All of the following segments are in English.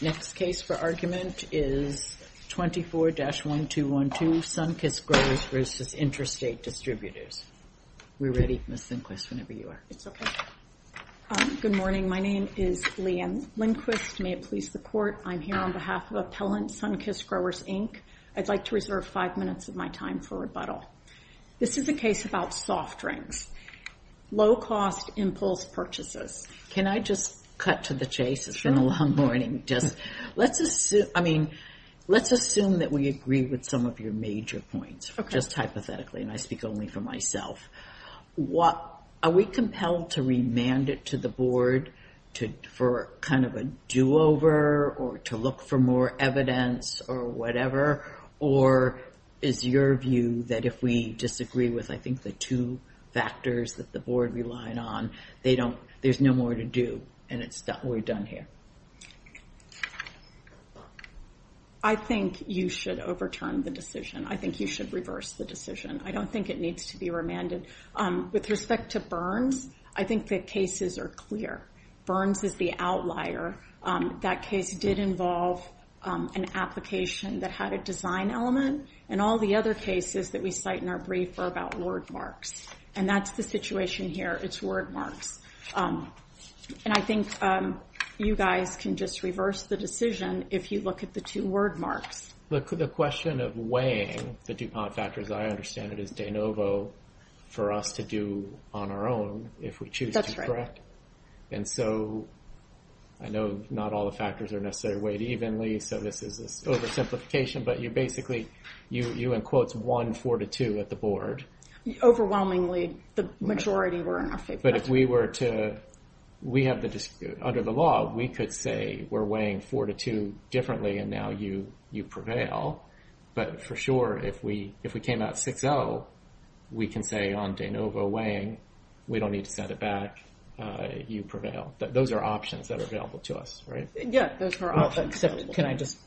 Next case for argument is 24-1212, Sunkist Growers v. Intrastate Distributors. We're ready, Ms. Lindquist, whenever you are. It's okay. Good morning. My name is Leigh Ann Lindquist. May it please the court, I'm here on behalf of Appellant Sunkist Growers, Inc. I'd like to reserve five minutes of my time for rebuttal. This is a case about soft drinks, low-cost impulse purchases. Can I just cut to the chase? It's been a long morning. Let's assume that we agree with some of your major points, just hypothetically, and I speak only for myself. Are we compelled to remand it to the board for kind of a do-over or to look for more evidence or whatever? Or is your view that if we disagree with, I think, the two factors that the board relied on, there's no more to do and we're done here? I think you should overturn the decision. I think you should reverse the decision. I don't think it needs to be remanded. With respect to Burns, I think the cases are clear. Burns is the outlier. That case did involve an application that had a design element, and all the other cases that we cite in our brief are about word marks. And that's the situation here. It's word marks. And I think you guys can just reverse the decision if you look at the two word marks. Look, the question of weighing the DuPont factors, I understand it is de novo for us to do on our own if we choose to correct. And so I know not all the factors are necessarily weighed evenly. So this is an oversimplification. But you basically, you in quotes, won four to two at the board. Overwhelmingly, the majority were in our favor. But if we were to, we have the dispute under the law, we could say we're weighing four to two differently and now you prevail. But for sure, if we came out 6-0, we can say on de novo weighing, we don't need to set it back, you prevail. Those are options that are available to us, right? Yeah, those are all acceptable. Can I just,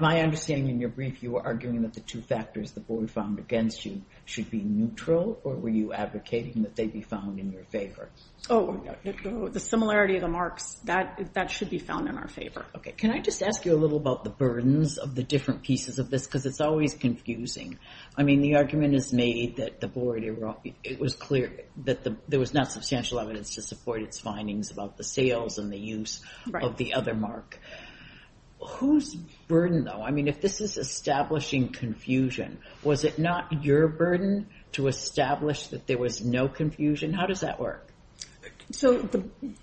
my understanding in your brief, you were arguing that the two factors the board found against you should be neutral or were you advocating that they be found in your favor? Oh, the similarity of the marks, that should be found in our favor. Okay, can I just ask you a little about the burdens of the different pieces of this? Because it's always confusing. I mean, the argument is made that the board, it was clear that there was not substantial evidence to support its findings about the sales and the use of the other mark. Whose burden though? I mean, if this is establishing confusion, was it not your burden to establish that there was no confusion? How does that work? So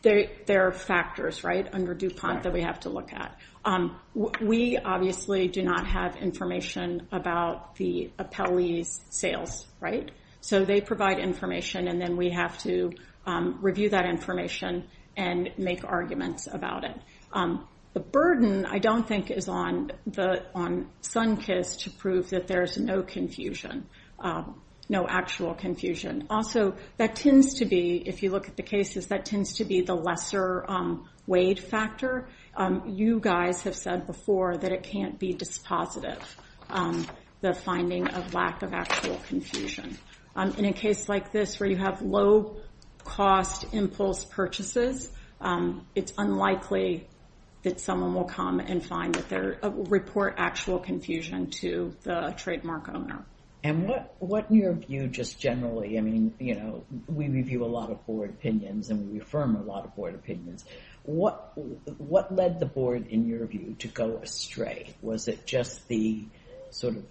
there are factors, right, under DuPont that we have to look at. We obviously do not have information about the appellee's sales, right? So they provide information and then we have to review that information and make arguments about it. The burden, I don't think, is on Sunkist to prove that there's no confusion, no actual confusion. Also, that tends to be, if you look at the cases, that tends to be the lesser weighed factor. You guys have said before that it can't be dispositive, the finding of lack of actual confusion. In a case like this where you have low cost impulse purchases, it's unlikely that someone will come and report actual confusion to the trademark owner. And what, in your view, just generally, I mean, you know, we review a lot of board opinions and we affirm a lot of board opinions. What led the board, in your view, to go astray? Was it just the sort of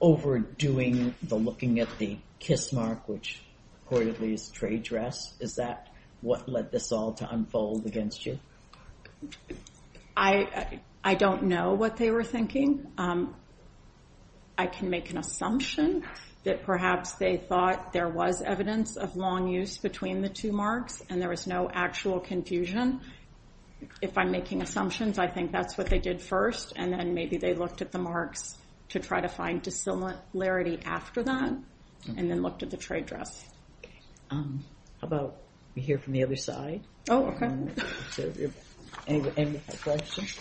overdoing the looking at the kiss mark, which reportedly is trade dress? Is that what led this all to unfold against you? I don't know what they were thinking. I can make an assumption that perhaps they thought there was evidence of long use between the two marks and there was no actual confusion. If I'm making assumptions, I think that's what they did first. And then maybe they looked at the marks to try to find dissimilarity after that and then looked at the trade dress. Okay. How about we hear from the other side? Oh, okay. Any questions?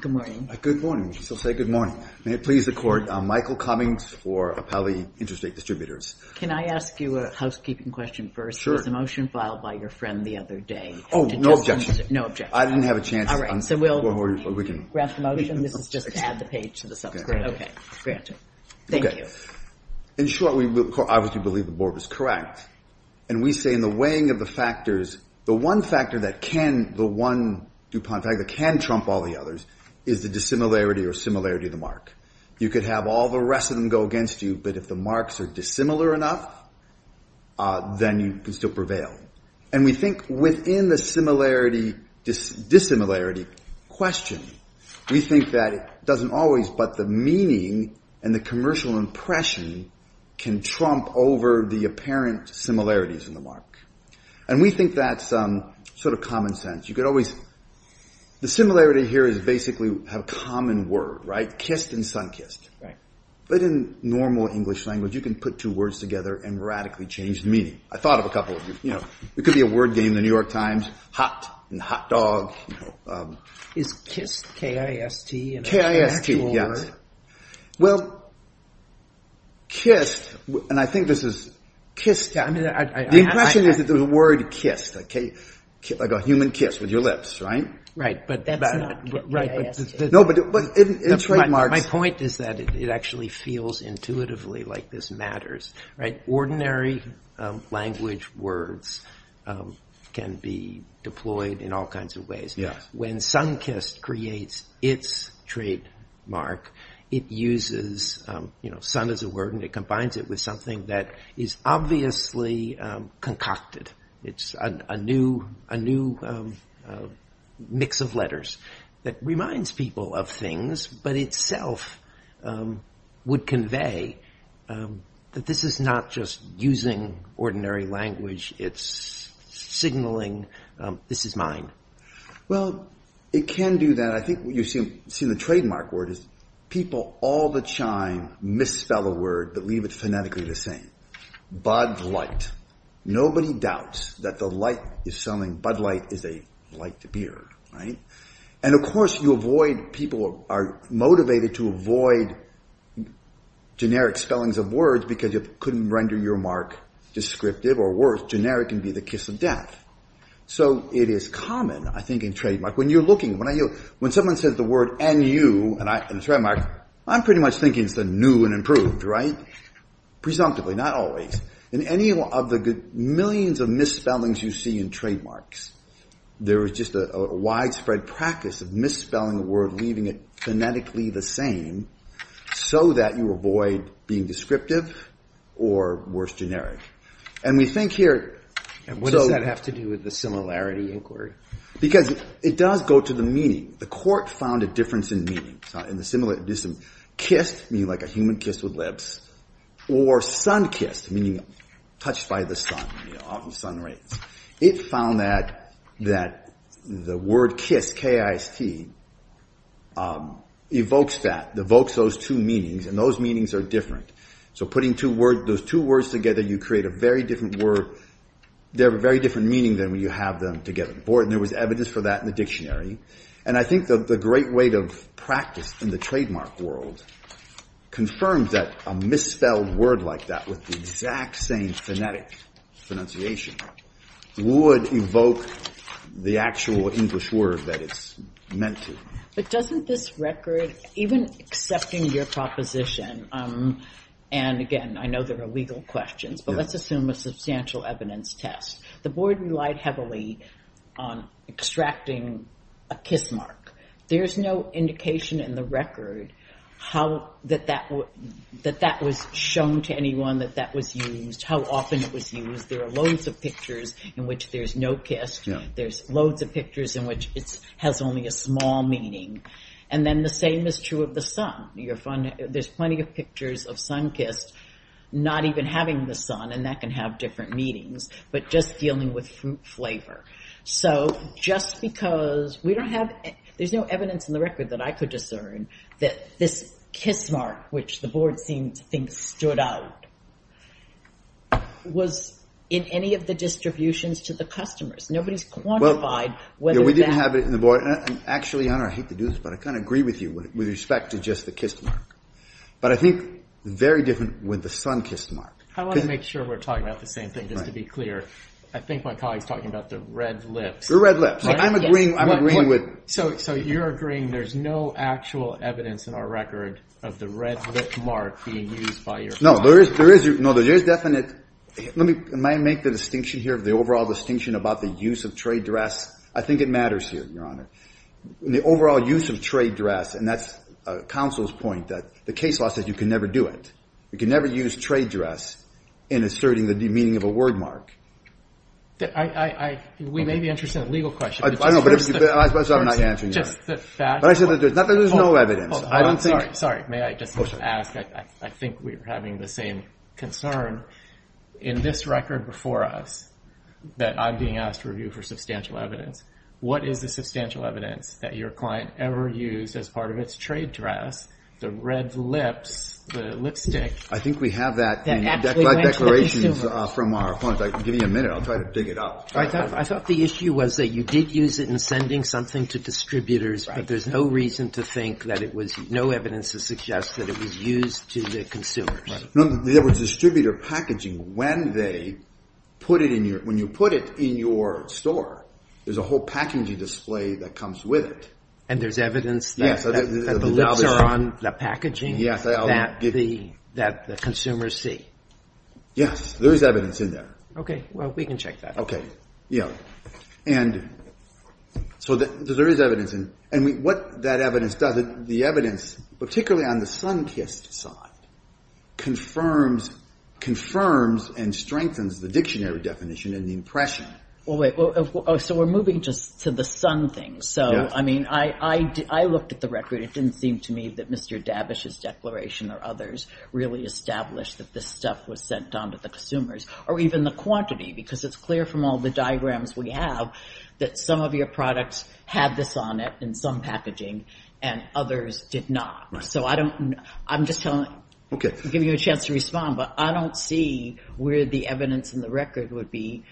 Good morning. Good morning. She'll say good morning. May it please the court, Michael Cummings for Appali Interstate Distributors. Can I ask you a housekeeping question first? Sure. There was a motion filed by your friend the other day. Oh, no objection. No objection. I didn't have a chance. All right, so we'll grant the motion. This is just to add the page to the subscript. Okay, granted. Thank you. In short, we obviously believe the board was correct. And we say in the weighing of the factors, the one factor that can trump all the others is the dissimilarity or similarity of the mark. You could have all the rest of them go against you, but if the marks are dissimilar enough, then you can still prevail. And we think within the dissimilarity question, we think that it doesn't always, but the meaning and the commercial impression can trump over the apparent similarities in the mark. And we think that's sort of common sense. You could always, the similarity here is basically have a common word, right? Kissed and sunkissed. Right. But in normal English language, you can put two words together and radically change the meaning. I thought of a couple of you, you know, it could be a word game, the New York Times, hot and hot dog. Is kissed K-I-S-T an actual word? K-I-S-T, yes. Well, kissed, and I think this is kissed. I mean, the impression is that there's a word kissed, like a human kiss with your lips, right? Right, but that's not K-I-S-T. No, but in trademarks. My point is that it actually feels intuitively like this matters, right? Ordinary language words can be deployed in all kinds of ways. When sunkissed creates its trademark, it uses, you know, sun as a word, and it combines it with something that is obviously concocted. It's a new mix of letters that reminds people of things, but itself would convey that this is not just using ordinary language. It's signaling, this is mine. Well, it can do that. I think what you see in the trademark word is people all the time misspell a word, but leave it phonetically the same. Bud light. Nobody doubts that the light is something, bud light is a light beard, right? And, of course, you avoid, people are motivated to avoid generic spellings of words because you couldn't render your mark descriptive or worse, generic can be the kiss of death. So it is common, I think, in trademark. When you're looking, when someone says the word N-U in a trademark, I'm pretty much thinking it's the new and improved, right? Presumptively, not always. In any of the millions of misspellings you see in trademarks, there is just a widespread practice of misspelling a word, leaving it phonetically the same so that you avoid being descriptive or worse, generic. And we think here. And what does that have to do with the similarity inquiry? Because it does go to the meaning. The court found a difference in meaning. In the similarity, it's a kiss, meaning like a human kiss with lips, or sun kissed, meaning touched by the sun, you know, often sun rays. It found that the word kiss, K-I-S-T, evokes that, evokes those two meanings, and those meanings are different. So putting those two words together, you create a very different word. They have a very different meaning than when you have them together. There was evidence for that in the dictionary. And I think the great weight of practice in the trademark world confirms that a misspelled word like that with the exact same phonetic pronunciation would evoke the actual English word that it's meant to. But doesn't this record, even accepting your proposition, and again, I know there are legal questions, but let's assume a substantial evidence test. The board relied heavily on extracting a kiss mark. There's no indication in the record how that that was shown to anyone, that that was used, how often it was used. There are loads of pictures in which there's no kiss. There's loads of pictures in which it has only a small meaning. And then the same is true of the sun. There's plenty of pictures of sun kissed, not even having the sun, and that can have different meanings, but just dealing with fruit flavor. So just because we don't have, there's no evidence in the record that I could discern that this kiss mark, which the board seemed to think stood out, was in any of the distributions to the customers. Nobody's quantified whether that... We didn't have it in the board. Actually, I hate to do this, but I kind of agree with you with respect to just the kiss mark. But I think very different with the sun kiss mark. I want to make sure we're talking about the same thing. Just to be clear, I think my colleague's talking about the red lips. The red lips. I'm agreeing with... So you're agreeing there's no actual evidence in our record of the red lip mark being used by your... No, there is definite... Let me make the distinction here, the overall distinction about the use of trade dress. I think it matters here, Your Honor. The overall use of trade dress, and that's counsel's point, that the case law says you can never do it. You can never use trade dress in asserting the meaning of a word mark. We may be interested in a legal question. I don't know, but I suppose I'm not answering your... Just the fact... But I said that there's no evidence. I don't think... Sorry. May I just ask? I think we're having the same concern. In this record before us that I'm being asked to review for substantial evidence, what is the substantial evidence that your client ever used as part of its trade dress, the red lips, the lipstick... I think we have that in declarations from our clients. I'll give you a minute. I'll try to dig it up. I thought the issue was that you did use it in sending something to distributors, but there's no reason to think that it was... No evidence to suggest that it was used to the consumers. No, there was distributor packaging when they put it in your... When you put it in your store, there's a whole packaging display that comes with it. And there's evidence that the lips are on the packaging that the consumers see. Yes, there is evidence in there. Okay, well, we can check that. Okay, yeah. And so there is evidence. And what that evidence does is the evidence, particularly on the sun-kissed side, confirms and strengthens the dictionary definition and the impression. Well, wait. So we're moving just to the sun thing. So, I mean, I looked at the record. It didn't seem to me that Mr. Davish's declaration or others really established that this stuff was sent on to the consumers or even the quantity because it's clear from all the diagrams we have that some of your products had this on it in some packaging and others did not. So I don't... I'm just telling... Okay. I'll give you a chance to respond, but I don't see where the evidence in the record would be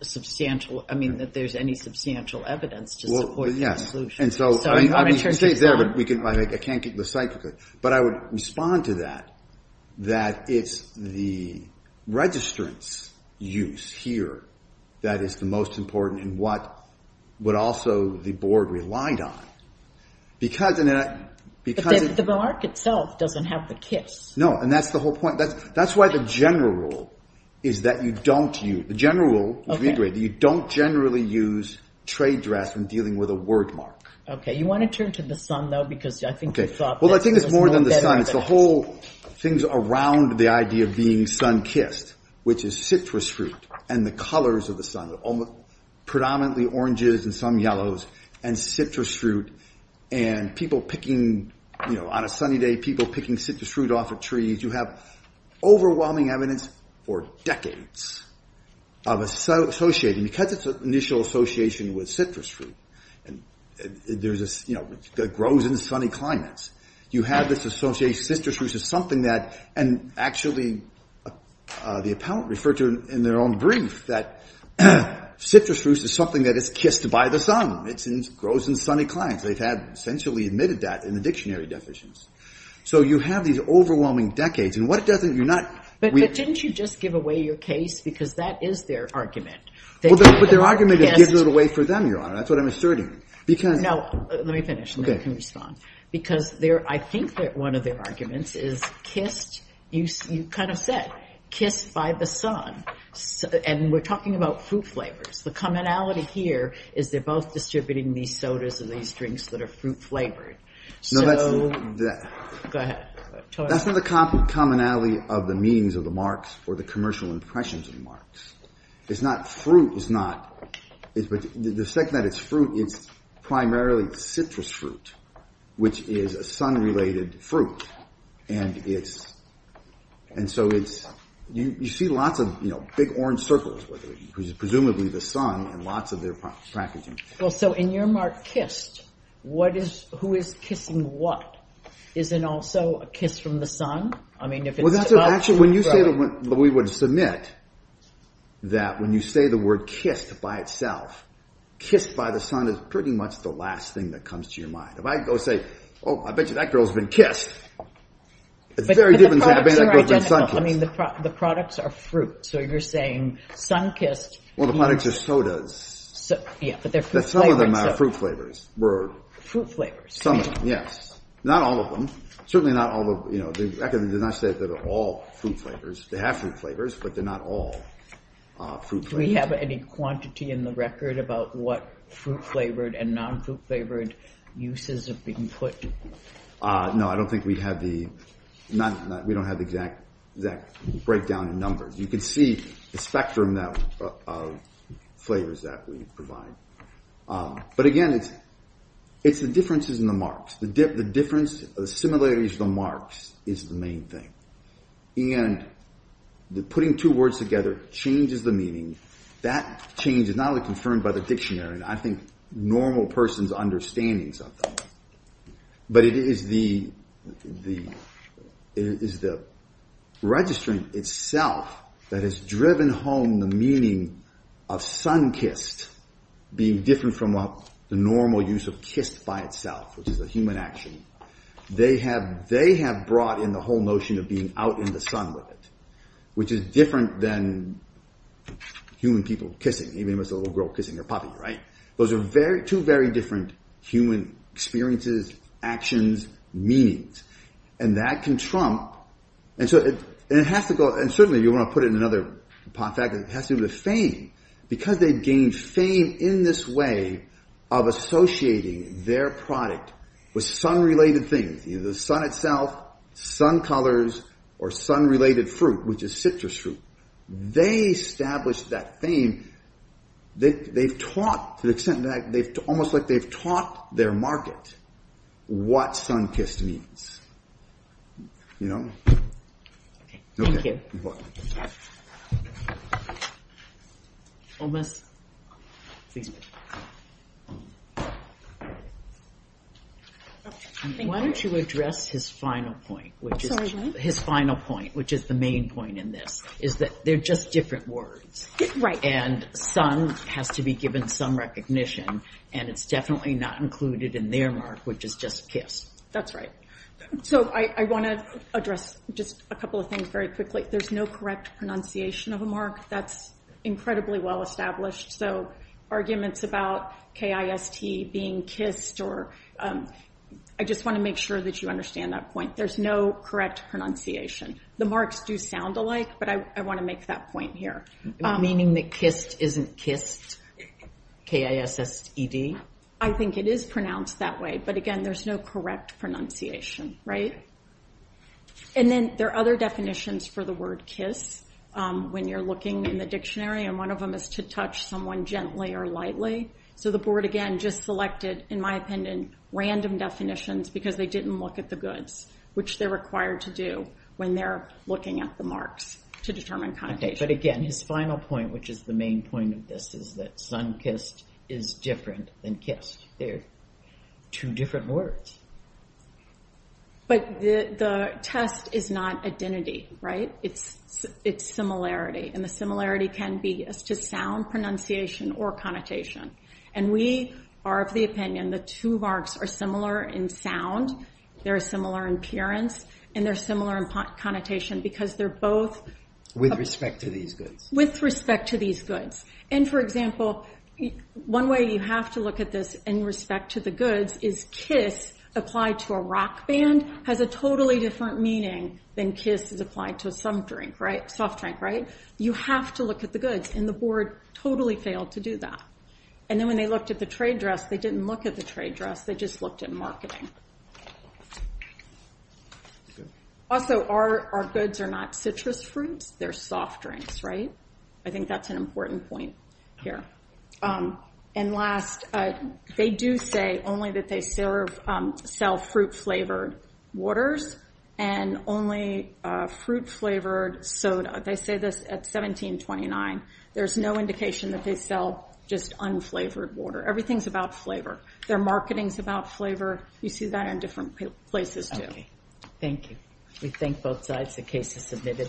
substantial. I mean, that there's any substantial evidence to support the conclusion. And so... So I'm going to turn things on. I can't get the site... But I would respond to that, that it's the registrant's use here that is the most important and what would also the board relied on. Because... But the mark itself doesn't have the kiss. No. And that's the whole point. That's why the general rule is that you don't use... The general rule is we agree that you don't generally use trade drafts when dealing with a word mark. Okay. You want to turn to the sun, though, because I think you thought... Well, I think it's more than the sun. It's the whole things around the idea of being sun-kissed, which is citrus fruit and the colors of the sun. Predominantly oranges and some yellows and citrus fruit and people picking, you know, on a sunny day, people picking citrus fruit off of trees. You have overwhelming evidence for decades of associating... Because it's an initial association with citrus fruit and there's a... You know, it grows in sunny climates. You have this association. Citrus fruit is something that... And actually, the appellant referred to in their own brief that citrus fruit is something that is kissed by the sun. It grows in sunny climates. They've had essentially admitted that in the dictionary deficiencies. So you have these overwhelming decades. And what it doesn't... You're not... But didn't you just give away your case? Because that is their argument. Well, but their argument is give it away for them, Your Honor. That's what I'm asserting. Because... Now, let me finish and then you can respond. Because they're... I think that one of their arguments is kissed... You kind of said kissed by the sun. And we're talking about fruit flavors. The commonality here is they're both distributing these sodas and these drinks that are fruit flavored. So... No, that's... Go ahead. That's not the commonality of the meanings of the Marx or the commercial impressions of the Marx. It's not... Fruit is not... But the fact that it's fruit, it's primarily citrus fruit. Which is a sun-related fruit. And it's... And so it's... You see lots of, you know, big orange circles with it. Because it's presumably the sun and lots of their packaging. Well, so in your Marxist, what is... Who is kissing what? Is it also a kiss from the sun? I mean, if it's... Well, that's actually... When you say... We would submit that when you say the word kissed by itself, kissed by the sun is pretty much the last thing that comes to your mind. If I go say, oh, I bet you that girl's been kissed. It's very different to have been a girl who's been sun-kissed. I mean, the products are fruit. So you're saying sun-kissed... Well, the products are sodas. Yeah, but they're fruit-flavored sodas. Some of them are fruit flavors. Were... Fruit flavors. Some of them, yes. Not all of them. Certainly not all of, you know, the record does not say that they're all fruit flavors. They have fruit flavors, but they're not all fruit flavors. Do we have any quantity in the record about what fruit-flavored and non-fruit-flavored uses have been put? No, I don't think we have the... We don't have the exact breakdown in numbers. You can see the spectrum of flavors that we provide. But again, it's the differences in the marks. The difference, the similarities, the marks is the main thing. And putting two words together changes the meaning. That change is not only confirmed by the dictionary. And I think normal person's understandings of them. But it is the... It is the registering itself that has driven home the meaning of sun-kissed being different from the normal use of kissed by itself, which is a human action. They have brought in the whole notion of being out in the sun with it, which is different than human people kissing, even if it's a little girl kissing her puppy, right? Those are two very different human experiences, actions, meanings. And that can trump... And so it has to go... And certainly, you want to put it in another fact, it has to do with the fame. Because they've gained fame in this way of associating their product with sun-related things, either the sun itself, sun colors, or sun-related fruit, which is citrus fruit. They established that fame. They've taught, to the extent that they've... Almost like they've taught their market what sun-kissed means. You know? Thank you. Omas. Why don't you address his final point, which is... Sorry, what? His final point, which is the main point in this. Is that they're just different words. And sun has to be given some recognition, and it's definitely not included in their mark, which is just kiss. That's right. So I want to address just a couple of things very quickly. There's no correct pronunciation of a mark. That's incredibly well established. So arguments about K-I-S-T being kissed, or... I just want to make sure that you understand that point. There's no correct pronunciation. The marks do sound alike, but I want to make that point here. Meaning that kissed isn't kissed? K-I-S-S-E-D? I think it is pronounced that way. But again, there's no correct pronunciation, right? And then there are other definitions for the word kiss when you're looking in the dictionary, and one of them is to touch someone gently or lightly. So the board, again, just selected, in my opinion, random definitions because they didn't look at the goods, which they're required to do when they're looking at the marks. To determine connotation. But again, his final point, which is the main point of this, is that sunkissed is different than kissed. They're two different words. But the test is not identity, right? It's similarity, and the similarity can be as to sound, pronunciation, or connotation. And we are of the opinion the two marks are similar in sound, they're similar in appearance, and they're similar in connotation because they're both with respect to these goods. And for example, one way you have to look at this in respect to the goods is kiss applied to a rock band has a totally different meaning than kiss is applied to some drink, right? Soft drink, right? You have to look at the goods, and the board totally failed to do that. And then when they looked at the trade dress, they didn't look at the trade dress. They just looked at marketing. Also, our goods are not citrus fruits. They're soft drinks, right? I think that's an important point here. And last, they do say only that they sell fruit flavored waters and only fruit flavored soda. They say this at 1729. There's no indication that they sell just unflavored water. Everything's about flavor. Their marketing's about flavor. You see a lot of people say, you see that in different places, too. Thank you. We thank both sides. The case is submitted.